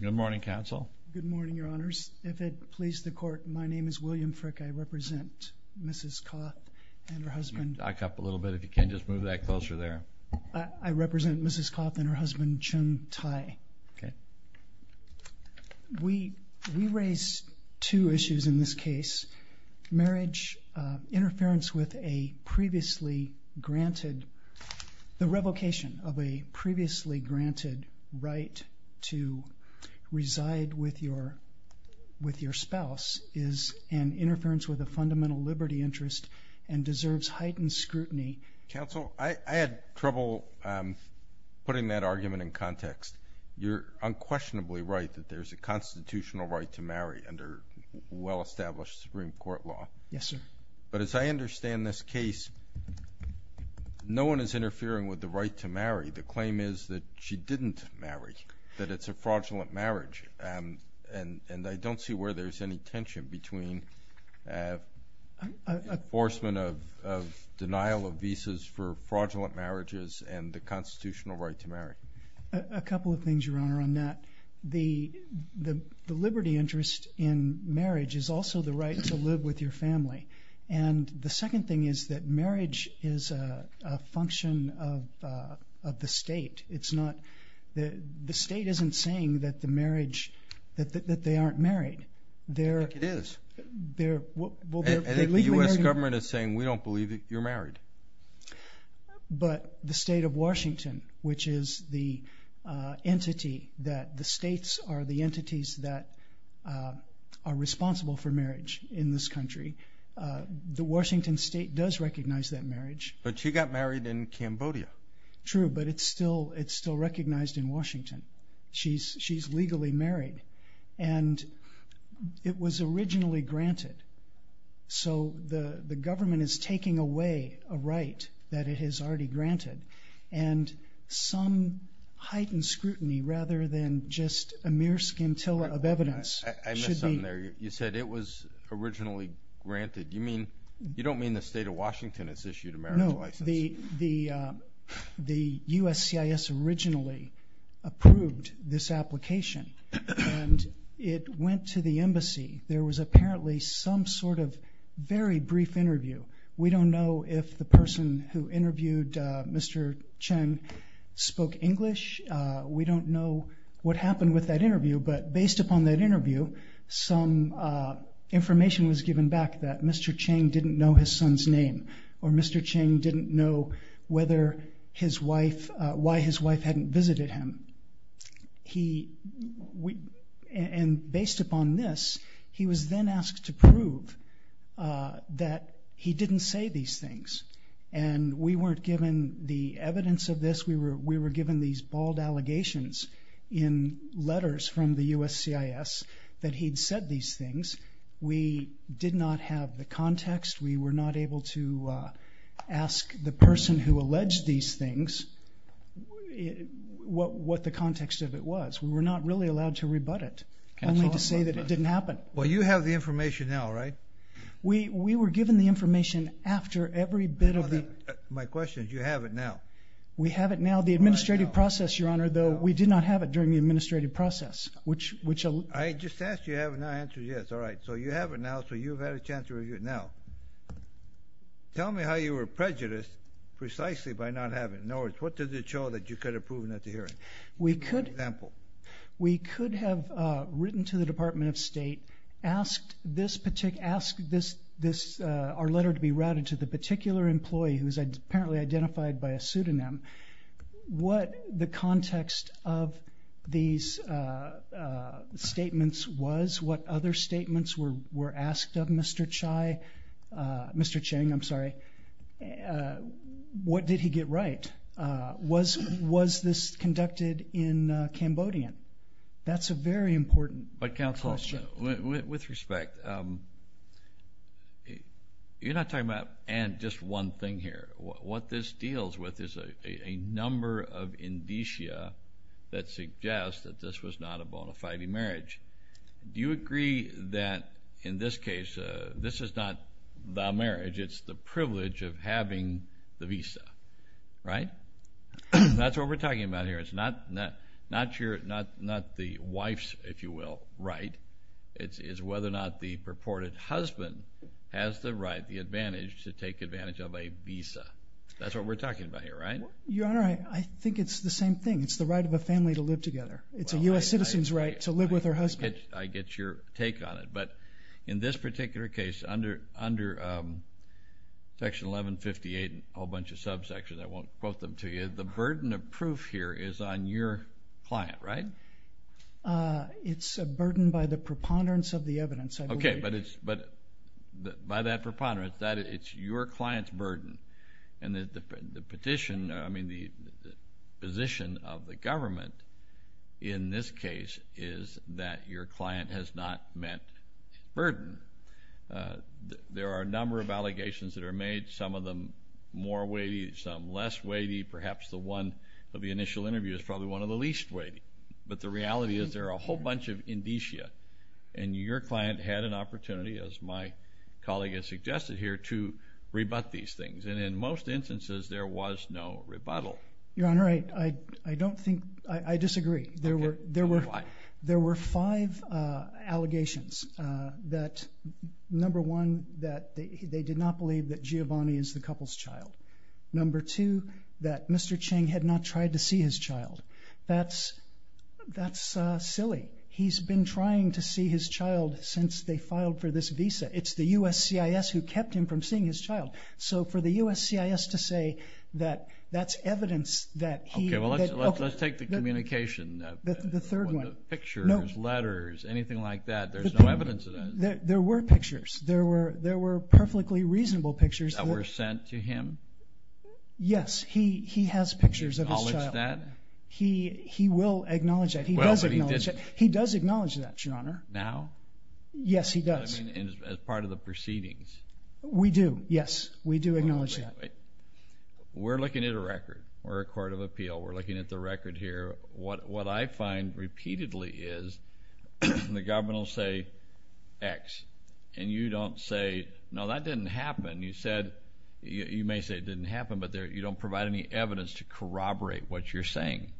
Good morning, Counsel. Good morning, Your Honors. If it pleases the Court, my name is William Frick. I represent Mrs. Koth and her husband. You can duck up a little bit if you can. Just move that closer there. I represent Mrs. Koth and her husband, Chun Thai. Okay. We raise two issues in this case, marriage interference with a previously granted the revocation of a previously granted right to reside with your spouse is an interference with a fundamental liberty interest and deserves heightened scrutiny. Counsel, I had trouble putting that argument in context. You're unquestionably right that there's a constitutional right to marry under well-established Supreme Court law. Yes, sir. But as I understand this case, no one is interfering with the right to marry. The claim is that she didn't marry, that it's a fraudulent marriage, and I don't see where there's any tension between enforcement of denial of visas for fraudulent marriages and the constitutional right to marry. A couple of things, Your Honor, on that. The liberty interest in marriage is also the right to live with your family. And the second thing is that marriage is a function of the state. The state isn't saying that they aren't married. I think it is. And if the U.S. government is saying, we don't believe that you're married. But the state of Washington, which is the entity that the states are the entities that are responsible for marriage in this country, the Washington state does recognize that marriage. But she got married in Cambodia. True, but it's still recognized in Washington. She's legally married. And it was originally granted. So the government is taking away a right that it has already granted. And some heightened scrutiny, rather than just a mere scintilla of evidence. I missed something there. You said it was originally granted. You don't mean the state of Washington has issued a marriage license? No, the USCIS originally approved this application. And it went to the embassy. There was apparently some sort of very brief interview. We don't know if the person who interviewed Mr. Chen spoke English. We don't know what happened with that interview. But based upon that interview, some information was given back that Mr. Chen didn't know his son's name. Or Mr. Chen didn't know why his wife hadn't visited him. And based upon this, he was then asked to prove that he didn't say these things. And we weren't given the evidence of this. We were given these bald allegations in letters from the USCIS that he'd said these things. We did not have the context. We were not able to ask the person who alleged these things what the context of it was. We were not really allowed to rebut it, only to say that it didn't happen. Well, you have the information now, right? We were given the information after every bit of the... My question is, you have it now. We have it now. The administrative process, Your Honor, though we did not have it during the administrative process, which... I just asked you if you have it now. I answered yes. All right, so you have it now, so you've had a chance to rebut it now. Tell me how you were prejudiced precisely by not having it. In other words, what did it show that you could have proven at the hearing? Give me an example. We could have written to the Department of State, asked our letter to be routed to the particular employee who was apparently identified by a pseudonym, what the context of these statements was, what other statements were asked of Mr. Chai. Mr. Chang, I'm sorry. What did he get right? Was this conducted in Cambodian? That's a very important question. But, counsel, with respect, you're not talking about just one thing here. What this deals with is a number of indicia that suggest that this was not a bona fide marriage. Do you agree that, in this case, this is not the marriage, it's the privilege of having the visa, right? That's what we're talking about here. It's not the wife's, if you will, right. It's whether or not the purported husband has the right, the advantage to take advantage of a visa. That's what we're talking about here, right? Your Honor, I think it's the same thing. It's the right of a family to live together. It's a U.S. citizen's right to live with her husband. I get your take on it. But in this particular case, under Section 1158, a whole bunch of subsections, I won't quote them to you, the burden of proof here is on your client, right? It's a burden by the preponderance of the evidence. Okay, but by that preponderance, it's your client's burden. And the position of the government in this case is that your client has not met burden. There are a number of allegations that are made, some of them more weighty, some less weighty. Perhaps the one of the initial interview is probably one of the least weighty. But the reality is there are a whole bunch of indicia, and your client had an opportunity, as my colleague has suggested here, to rebut these things. And in most instances, there was no rebuttal. Your Honor, I don't think, I disagree. There were five allegations that, number one, that they did not believe that Giovanni is the couple's child. Number two, that Mr. Cheng had not tried to see his child. That's silly. He's been trying to see his child since they filed for this visa. It's the USCIS who kept him from seeing his child. So for the USCIS to say that that's evidence that he... Okay, well, let's take the communication. The third one. Pictures, letters, anything like that. There's no evidence of that. There were pictures. There were perfectly reasonable pictures. That were sent to him? Yes, he has pictures of his child. Does he acknowledge that? He will acknowledge that. He does acknowledge that, Your Honor. Now? Yes, he does. As part of the proceedings? We do, yes. We do acknowledge that. We're looking at a record. We're a court of appeal. We're looking at the record here. What I find repeatedly is the government will say X, and you don't say, no, that didn't happen. You may say it didn't happen, but you don't provide any evidence to corroborate what you're saying.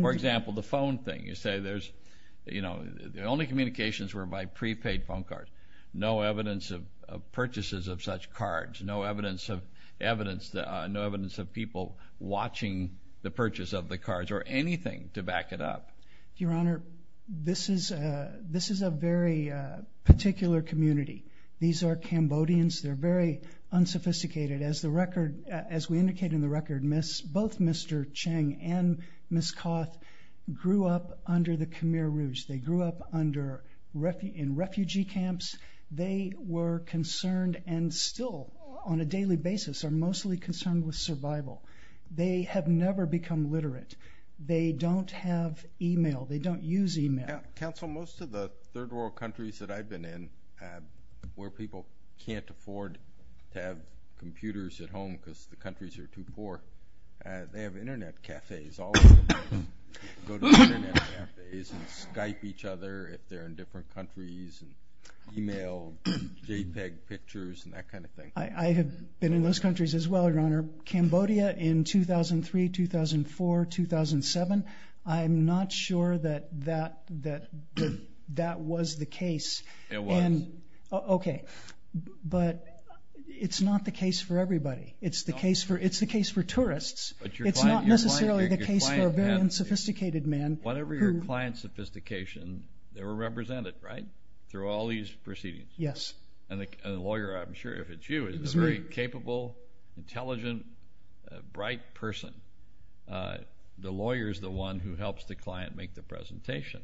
For example, the phone thing. You say the only communications were by prepaid phone cards. No evidence of purchases of such cards. No evidence of people watching the purchase of the cards or anything to back it up. Your Honor, this is a very particular community. These are Cambodians. They're very unsophisticated. As we indicate in the record, both Mr. Chang and Ms. Koth grew up under the Khmer Rouge. They grew up in refugee camps. They were concerned and still, on a daily basis, are mostly concerned with survival. They have never become literate. They don't have e-mail. They don't use e-mail. Counsel, most of the third world countries that I've been in where people can't afford to have computers at home because the countries are too poor, they have Internet cafes all the time. They go to Internet cafes and Skype each other if they're in different countries, and e-mail, JPEG pictures, and that kind of thing. I have been in those countries as well, Your Honor. Cambodia in 2003, 2004, 2007. I'm not sure that that was the case. It was. Okay, but it's not the case for everybody. It's the case for tourists. It's not necessarily the case for a very unsophisticated man. Whatever your client's sophistication, they were represented, right, through all these proceedings? Yes. And the lawyer, I'm sure if it's you, is a very capable, intelligent, bright person. The lawyer is the one who helps the client make the presentation.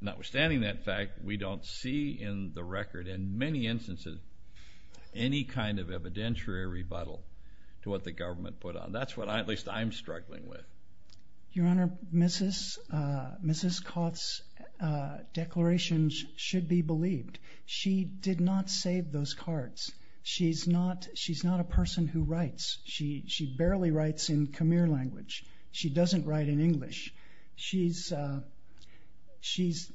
Notwithstanding that fact, we don't see in the record, in many instances, any kind of evidentiary rebuttal to what the government put out. That's what at least I'm struggling with. Your Honor, Mrs. Koth's declarations should be believed. She did not save those cards. She's not a person who writes. She barely writes in Khmer language. She doesn't write in English. She's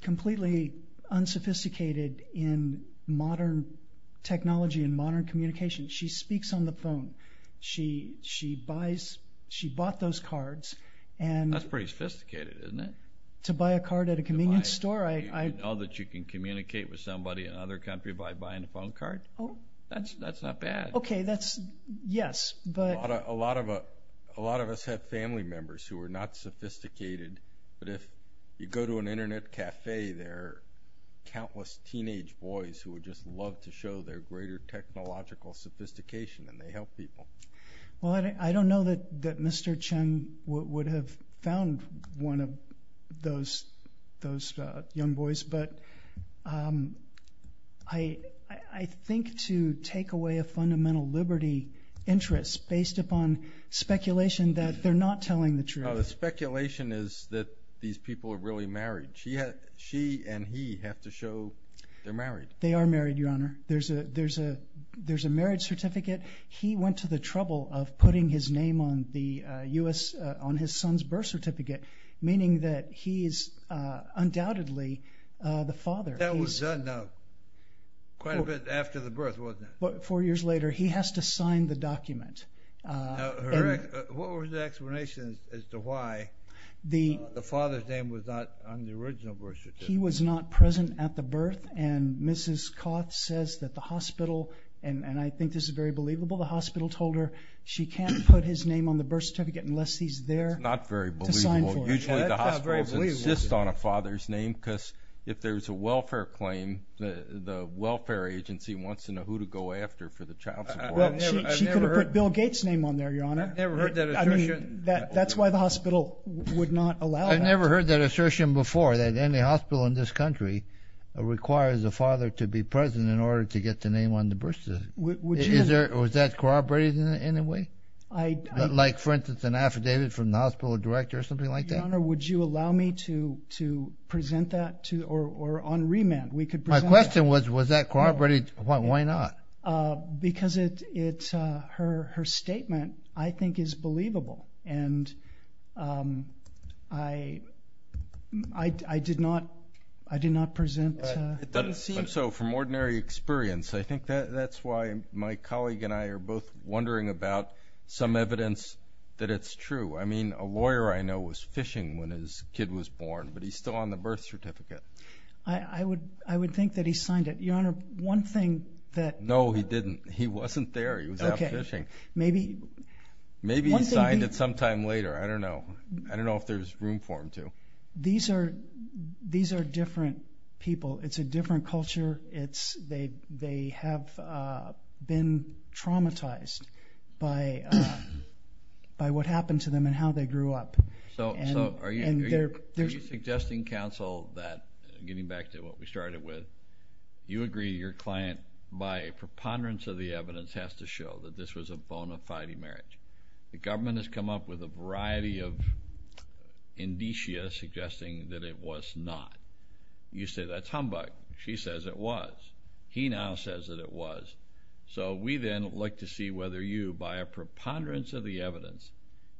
completely unsophisticated in modern technology and modern communication. She speaks on the phone. She bought those cards. That's pretty sophisticated, isn't it? To buy a card at a convenience store? You know that you can communicate with somebody in another country by buying a phone card? That's not bad. Okay, that's, yes. A lot of us have family members who are not sophisticated, but if you go to an internet cafe, there are countless teenage boys who would just love to show their greater technological sophistication, and they help people. Well, I don't know that Mr. Cheng would have found one of those young boys, but I think to take away a fundamental liberty interest based upon speculation that they're not telling the truth. The speculation is that these people are really married. She and he have to show they're married. They are married, Your Honor. There's a marriage certificate. He went to the trouble of putting his name on his son's birth certificate, meaning that he is undoubtedly the father. That was done quite a bit after the birth, wasn't it? Four years later, he has to sign the document. What was the explanation as to why the father's name was not on the original birth certificate? He was not present at the birth, and Mrs. Koth says that the hospital, and I think this is very believable, the hospital told her she can't put his name on the birth certificate unless he's there to sign for it. That's not very believable. Usually the hospital insists on a father's name because if there's a welfare claim, the welfare agency wants to know who to go after for the child support. She could have put Bill Gates' name on there, Your Honor. I've never heard that assertion. That's why the hospital would not allow that. I've never heard that assertion before, that any hospital in this country requires a father to be present in order to get the name on the birth certificate. Was that corroborated in any way? Like, for instance, an affidavit from the hospital director or something like that? Your Honor, would you allow me to present that? Or on remand, we could present that. My question was, was that corroborated? Why not? Because her statement, I think, is believable. And I did not present it. So from ordinary experience, I think that's why my colleague and I are both wondering about some evidence that it's true. I mean, a lawyer I know was fishing when his kid was born, but he's still on the birth certificate. I would think that he signed it. Your Honor, one thing that— No, he didn't. He wasn't there. He was out fishing. Maybe he signed it sometime later. I don't know. I don't know if there's room for him to. These are different people. It's a different culture. They have been traumatized by what happened to them and how they grew up. So are you suggesting, counsel, that, getting back to what we started with, you agree your client, by preponderance of the evidence, has to show that this was a bona fide marriage. The government has come up with a variety of indicia suggesting that it was not. You say that's humbug. She says it was. He now says that it was. So we then would like to see whether you, by a preponderance of the evidence,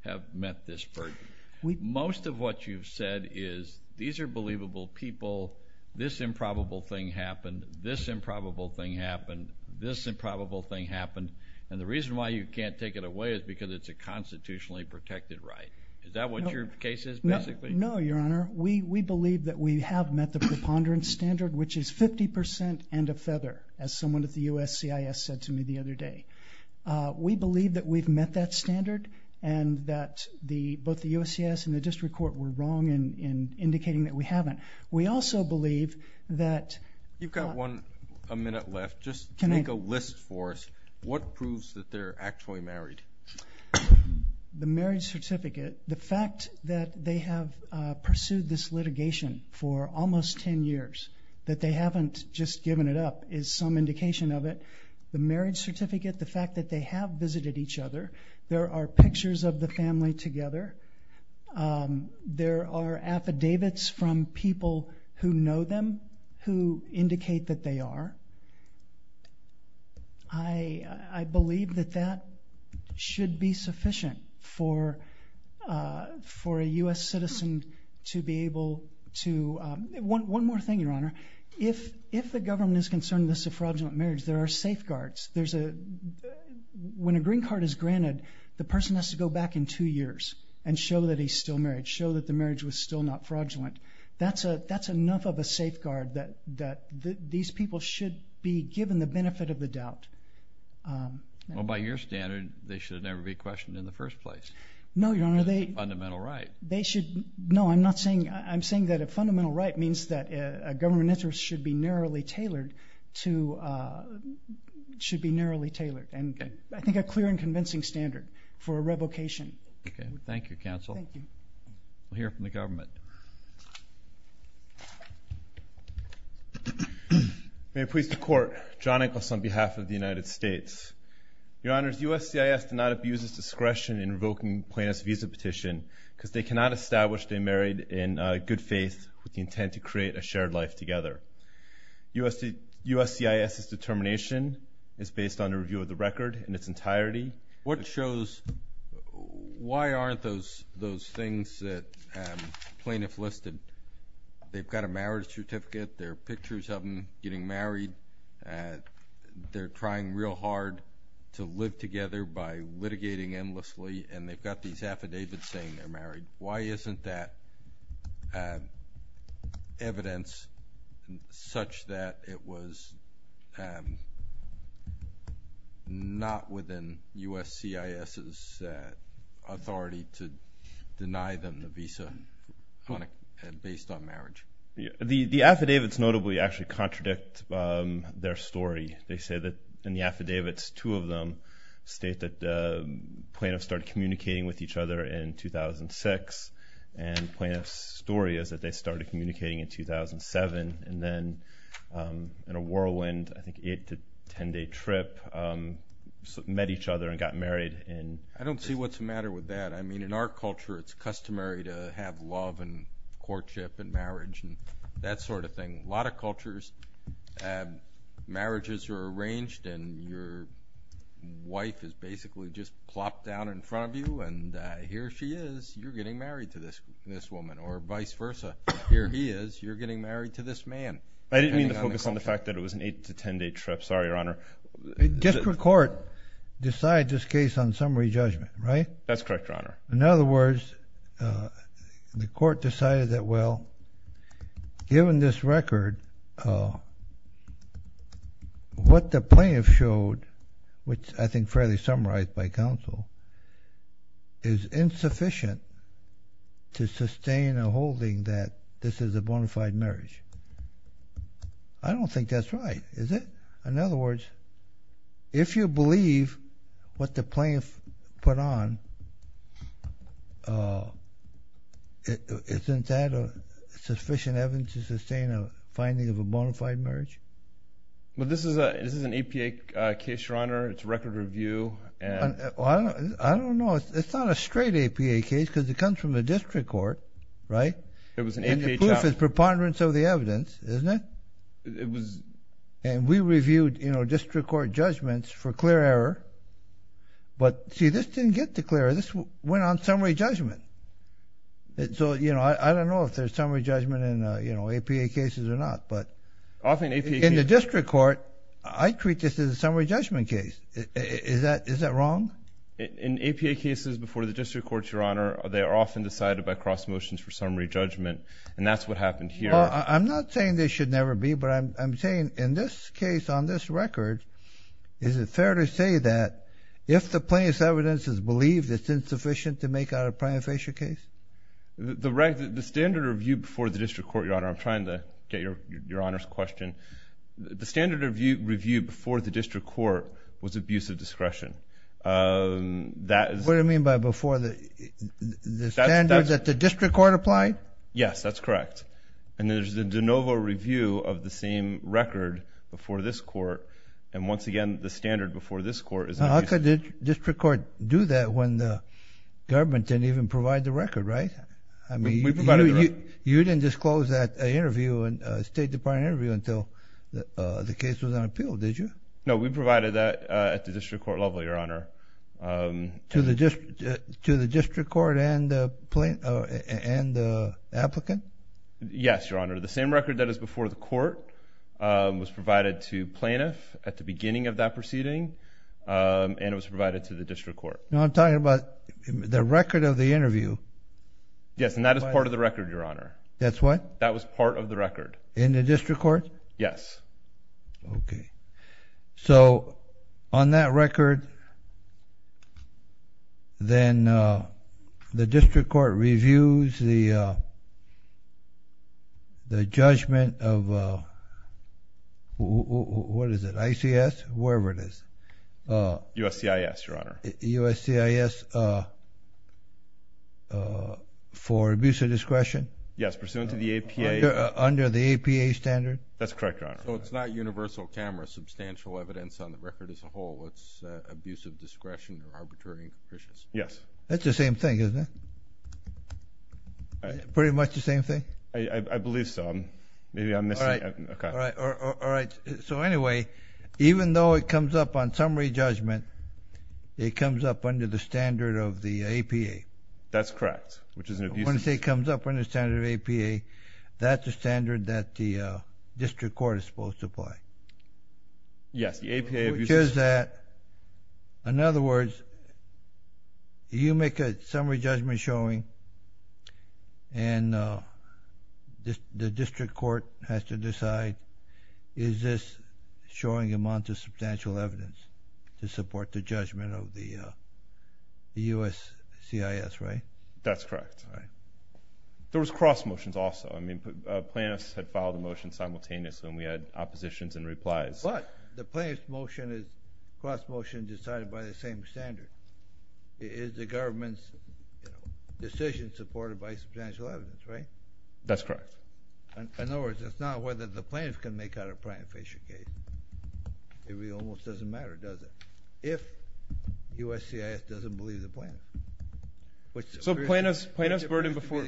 have met this burden. Most of what you've said is these are believable people. This improbable thing happened. This improbable thing happened. This improbable thing happened. And the reason why you can't take it away is because it's a constitutionally protected right. Is that what your case is, basically? No, Your Honor. We believe that we have met the preponderance standard, which is 50% and a feather, as someone at the USCIS said to me the other day. We believe that we've met that standard and that both the USCIS and the district court were wrong in indicating that we haven't. We also believe that- You've got one minute left. Just make a list for us. What proves that they're actually married? The marriage certificate. The fact that they have pursued this litigation for almost ten years, that they haven't just given it up, is some indication of it. The marriage certificate, the fact that they have visited each other, there are pictures of the family together, there are affidavits from people who know them who indicate that they are. I believe that that should be sufficient for a U.S. citizen to be able to- One more thing, Your Honor. If the government is concerned that this is a fraudulent marriage, there are safeguards. When a green card is granted, the person has to go back in two years and show that he's still married, show that the marriage was still not fraudulent. That's enough of a safeguard that these people should be given the benefit of the doubt. By your standard, they should never be questioned in the first place. No, Your Honor. Fundamental right. No, I'm not saying- I'm saying that a fundamental right means that a government interest should be narrowly tailored. I think a clear and convincing standard for a revocation. Thank you, counsel. Thank you. We'll hear from the government. May it please the Court. John Inglis on behalf of the United States. Your Honors, USCIS did not abuse its discretion in revoking Plaintiff's Visa petition because they cannot establish they married in good faith with the intent to create a shared life together. USCIS's determination is based on a review of the record in its entirety. What shows-why aren't those things that plaintiffs listed? They've got a marriage certificate. There are pictures of them getting married. They're trying real hard to live together by litigating endlessly, and they've got these affidavits saying they're married. Why isn't that evidence such that it was not within USCIS's authority to deny them the visa based on marriage? The affidavits notably actually contradict their story. They say that in the affidavits, two of them state that plaintiffs started communicating with each other in 2006, and plaintiff's story is that they started communicating in 2007, and then in a whirlwind, I think, eight to ten day trip, met each other and got married. I don't see what's the matter with that. I mean, in our culture, it's customary to have love and courtship and marriage and that sort of thing. A lot of cultures, marriages are arranged and your wife is basically just plopped down in front of you, and here she is, you're getting married to this woman, or vice versa. Here he is, you're getting married to this man. I didn't mean to focus on the fact that it was an eight to ten day trip. Sorry, Your Honor. District court decided this case on summary judgment, right? That's correct, Your Honor. In other words, the court decided that, well, given this record, what the plaintiff showed, which I think is fairly summarized by counsel, is insufficient to sustain a holding that this is a bona fide marriage. I don't think that's right, is it? In other words, if you believe what the plaintiff put on, isn't that sufficient evidence to sustain a finding of a bona fide marriage? Well, this is an APA case, Your Honor. It's a record review. I don't know. It's not a straight APA case because it comes from the district court, right? And the proof is preponderance of the evidence, isn't it? And we reviewed, you know, district court judgments for clear error. But, see, this didn't get to clear error. This went on summary judgment. So, you know, I don't know if there's summary judgment in, you know, APA cases or not. But in the district court, I treat this as a summary judgment case. Is that wrong? In APA cases before the district courts, Your Honor, they are often decided by cross motions for summary judgment. And that's what happened here. Well, I'm not saying this should never be, but I'm saying in this case, on this record, is it fair to say that if the plaintiff's evidence is believed, it's insufficient to make out a prima facie case? The standard review before the district court, Your Honor, I'm trying to get Your Honor's question. The standard review before the district court was abuse of discretion. What do you mean by before the standard that the district court applied? Yes, that's correct. And there's the de novo review of the same record before this court. And, once again, the standard before this court is abuse of discretion. How could the district court do that when the government didn't even provide the record, right? I mean, you didn't disclose that interview, State Department interview, until the case was on appeal, did you? No, we provided that at the district court level, Your Honor. To the district court and the applicant? Yes, Your Honor. The same record that is before the court was provided to plaintiff at the beginning of that proceeding, and it was provided to the district court. Now, I'm talking about the record of the interview. Yes, and that is part of the record, Your Honor. That's what? That was part of the record. In the district court? Yes. Okay. So, on that record, then the district court reviews the judgment of, what is it, ICS? Wherever it is. USCIS, Your Honor. USCIS for abuse of discretion? Yes, pursuant to the APA. Under the APA standard? That's correct, Your Honor. So, it's not universal camera, substantial evidence on the record as a whole. It's abuse of discretion or arbitrary and capricious? Yes. That's the same thing, isn't it? Pretty much the same thing? I believe so. Maybe I'm missing it. All right. So, anyway, even though it comes up on summary judgment, it comes up under the standard of the APA. That's correct, which is an abuse of discretion. If it comes up under the standard of APA, that's the standard that the district court is supposed to apply. Yes, the APA abuse of discretion. Which is that, in other words, you make a summary judgment showing and the district court has to decide, is this showing amount of substantial evidence to support the judgment of the USCIS, right? That's correct. All right. There was cross motions also. I mean, plaintiffs had filed a motion simultaneously, and we had oppositions and replies. But the plaintiff's motion is cross motion decided by the same standard. Is the government's decision supported by substantial evidence, right? That's correct. In other words, it's not whether the plaintiff can make out a plaintiff-patient case. It really almost doesn't matter, does it, if USCIS doesn't believe the plaintiff? So plaintiff's burden before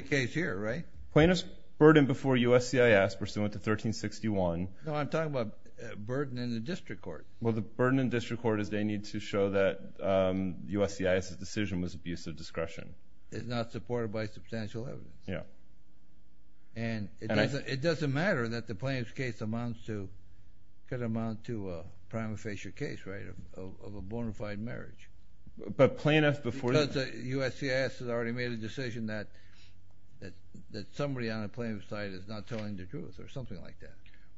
USCIS pursuant to 1361. No, I'm talking about burden in the district court. Well, the burden in district court is they need to show that USCIS's decision was abuse of discretion. It's not supported by substantial evidence. Yeah. And it doesn't matter that the plaintiff's case amounts to a prima facie case, right, of a bona fide marriage. Because USCIS has already made a decision that somebody on the plaintiff's side is not telling the truth or something like that.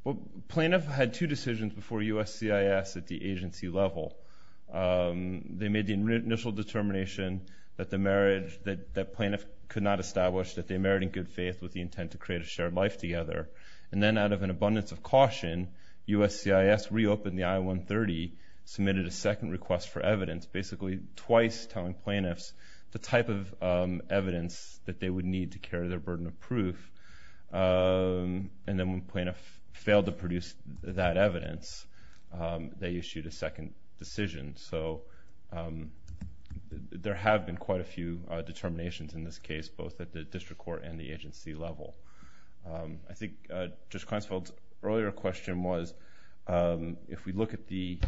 Well, plaintiff had two decisions before USCIS at the agency level. They made the initial determination that the marriage that plaintiff could not establish, that they married in good faith with the intent to create a shared life together. And then out of an abundance of caution, USCIS reopened the I-130, submitted a second request for evidence, basically twice telling plaintiffs the type of evidence that they would need to carry their burden of proof. And then when plaintiff failed to produce that evidence, they issued a second decision. So there have been quite a few determinations in this case, both at the district court and the agency level. I think Judge Kleinfeld's earlier question was if we look at the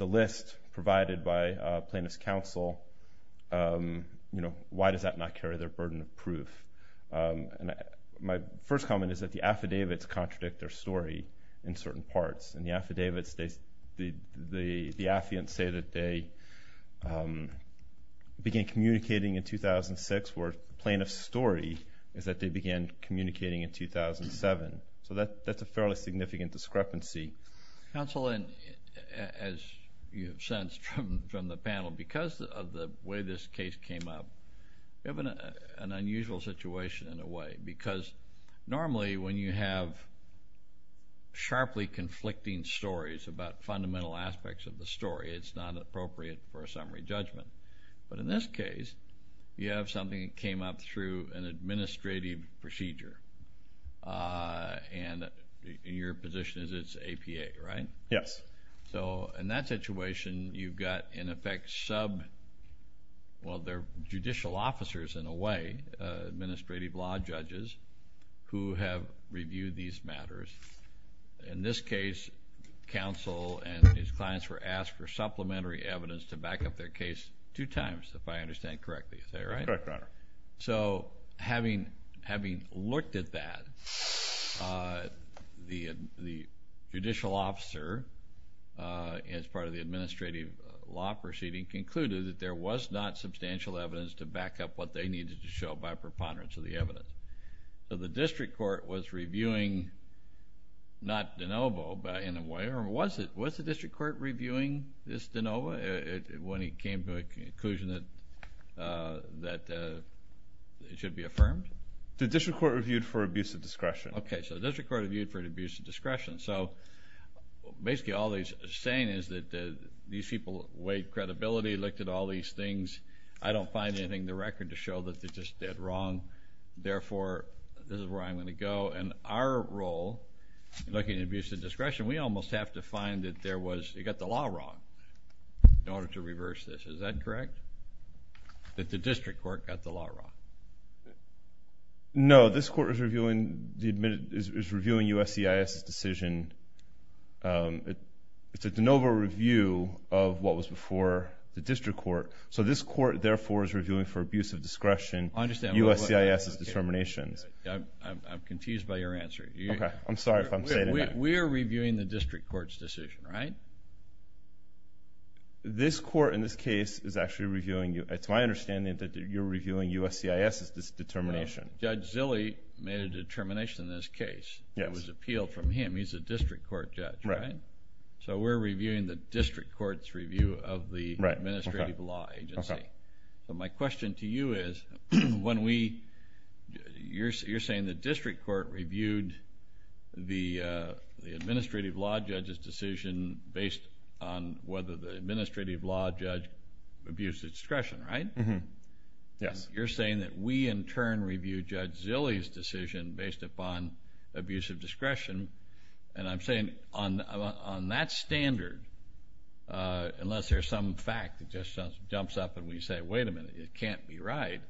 list provided by plaintiff's counsel, why does that not carry their burden of proof? My first comment is that the affidavits contradict their story in certain parts. In the affidavits, the affiants say that they began communicating in 2006, where plaintiff's story is that they began communicating in 2007. So that's a fairly significant discrepancy. Counsel, as you have sensed from the panel, because of the way this case came up, you have an unusual situation in a way because normally when you have sharply conflicting stories about fundamental aspects of the story, it's not appropriate for a summary judgment. But in this case, you have something that came up through an administrative procedure, and your position is it's APA, right? Yes. So in that situation, you've got in effect sub, well, they're judicial officers in a way, administrative law judges who have reviewed these matters. In this case, counsel and his clients were asked for supplementary evidence to back up their case two times, if I understand correctly. Is that right? Correct, Your Honor. So having looked at that, the judicial officer, as part of the administrative law proceeding, concluded that there was not substantial evidence to back up what they needed to show by preponderance of the evidence. So the district court was reviewing, not de novo, but in a way, was the district court reviewing this de novo when it came to a conclusion that it should be affirmed? The district court reviewed for abuse of discretion. Okay. So the district court reviewed for abuse of discretion. So basically all they're saying is that these people weighed credibility, looked at all these things. I don't find anything in the record to show that they're just dead wrong. Therefore, this is where I'm going to go. In our role, looking at abuse of discretion, we almost have to find that it got the law wrong in order to reverse this. Is that correct, that the district court got the law wrong? No, this court is reviewing USCIS's decision. It's a de novo review of what was before the district court. So this court, therefore, is reviewing for abuse of discretion USCIS's determinations. I'm confused by your answer. Okay. I'm sorry if I'm saying that. We are reviewing the district court's decision, right? This court, in this case, is actually reviewing. It's my understanding that you're reviewing USCIS's determination. Judge Zille made a determination in this case. Yes. It was appealed from him. He's a district court judge, right? Right. So we're reviewing the district court's review of the administrative law agency. Okay. My question to you is, you're saying the district court reviewed the administrative law judge's decision based on whether the administrative law judge abused discretion, right? Yes. You're saying that we, in turn, reviewed Judge Zille's decision based upon abuse of discretion. And I'm saying on that standard, unless there's some fact that just jumps up and we say, wait a minute. It can't be right.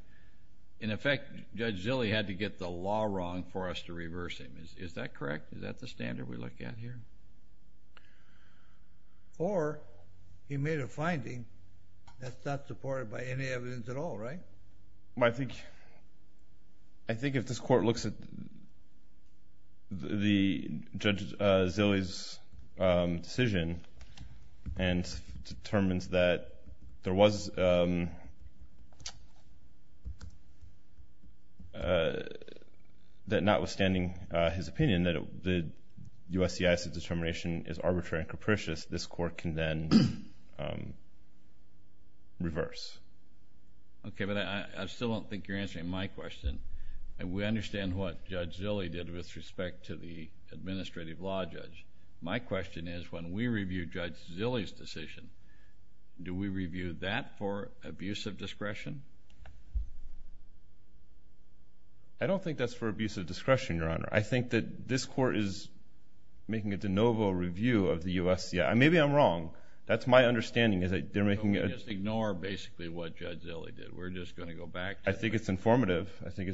In effect, Judge Zille had to get the law wrong for us to reverse him. Is that correct? Is that the standard we're looking at here? Or he made a finding that's not supported by any evidence at all, right? I think if this court looks at Judge Zille's decision and determines that there was... that notwithstanding his opinion that USCIS's determination is arbitrary and capricious, this court can then reverse. Okay. But I still don't think you're answering my question. And we understand what Judge Zille did with respect to the administrative law judge. My question is, when we review Judge Zille's decision, do we review that for abuse of discretion? I don't think that's for abuse of discretion, Your Honor. I think that this court is making a de novo review of the USCIS. Maybe I'm wrong. That's my understanding is that they're making... Just ignore basically what Judge Zille did. We're just going to go back to... I think it's informative. I think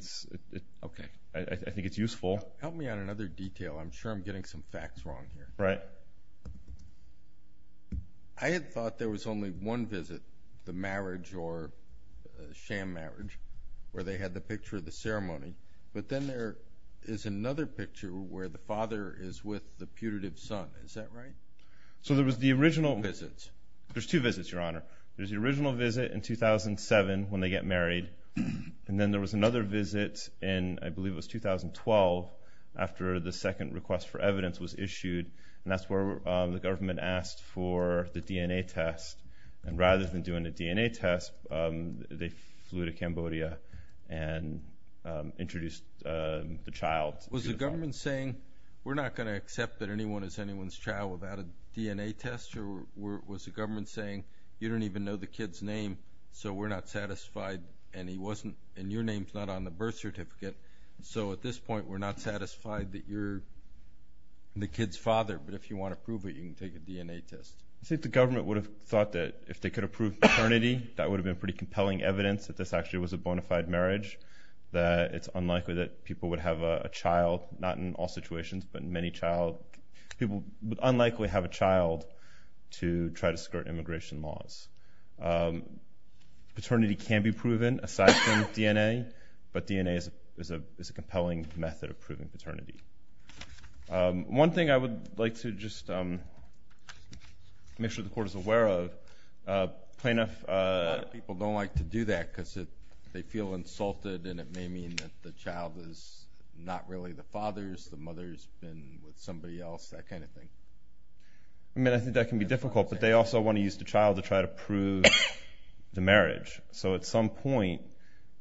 it's useful. Help me on another detail. I'm sure I'm getting some facts wrong here. Right. I had thought there was only one visit, the marriage or sham marriage, where they had the picture of the ceremony. But then there is another picture where the father is with the putative son. Is that right? So there was the original... Two visits. There's two visits, Your Honor. There's the original visit in 2007 when they get married. And then there was another visit in, I believe it was 2012, after the second request for evidence was issued. And that's where the government asked for the DNA test. And rather than doing the DNA test, they flew to Cambodia and introduced the child. Was the government saying, we're not going to accept that anyone is anyone's child without a DNA test? Or was the government saying, you don't even know the kid's name, so we're not satisfied, and your name's not on the birth certificate, so at this point we're not satisfied that you're the kid's father. But if you want to prove it, you can take a DNA test. I think the government would have thought that if they could have proved paternity, that would have been pretty compelling evidence that this actually was a bona fide marriage, that it's unlikely that people would have a child, not in all situations, but many people would unlikely have a child to try to skirt immigration laws. Paternity can be proven aside from DNA, but DNA is a compelling method of proving paternity. One thing I would like to just make sure the Court is aware of, plaintiff... And it may mean that the child is not really the father's, the mother's been with somebody else, that kind of thing. I mean, I think that can be difficult, but they also want to use the child to try to prove the marriage. So at some point,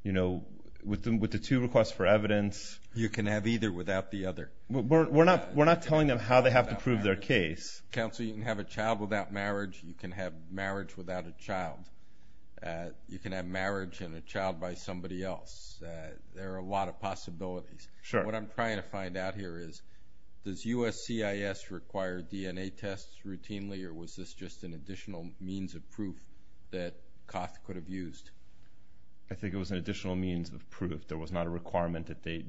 you know, with the two requests for evidence... You can have either without the other. We're not telling them how they have to prove their case. Counsel, you can have a child without marriage, you can have marriage without a child. You can have marriage and a child by somebody else. There are a lot of possibilities. What I'm trying to find out here is, does USCIS require DNA tests routinely, or was this just an additional means of proof that Coff could have used? I think it was an additional means of proof. There was not a requirement that they...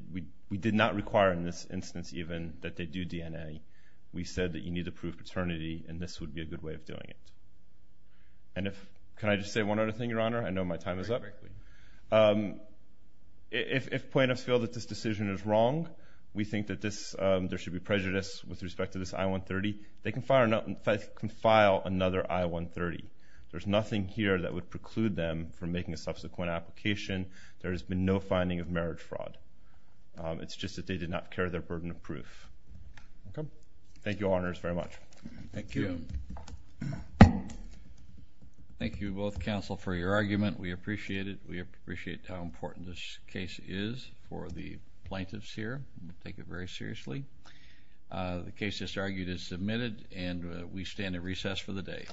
We did not require in this instance even that they do DNA. We said that you need to prove paternity, and this would be a good way of doing it. Can I just say one other thing, Your Honor? I know my time is up. If plaintiffs feel that this decision is wrong, we think that there should be prejudice with respect to this I-130. They can file another I-130. There's nothing here that would preclude them from making a subsequent application. There has been no finding of marriage fraud. It's just that they did not carry their burden of proof. Thank you, Your Honors, very much. Thank you. Thank you, both counsel, for your argument. We appreciate it. We appreciate how important this case is for the plaintiffs here. We take it very seriously. The case that's argued is submitted, and we stand at recess for the day.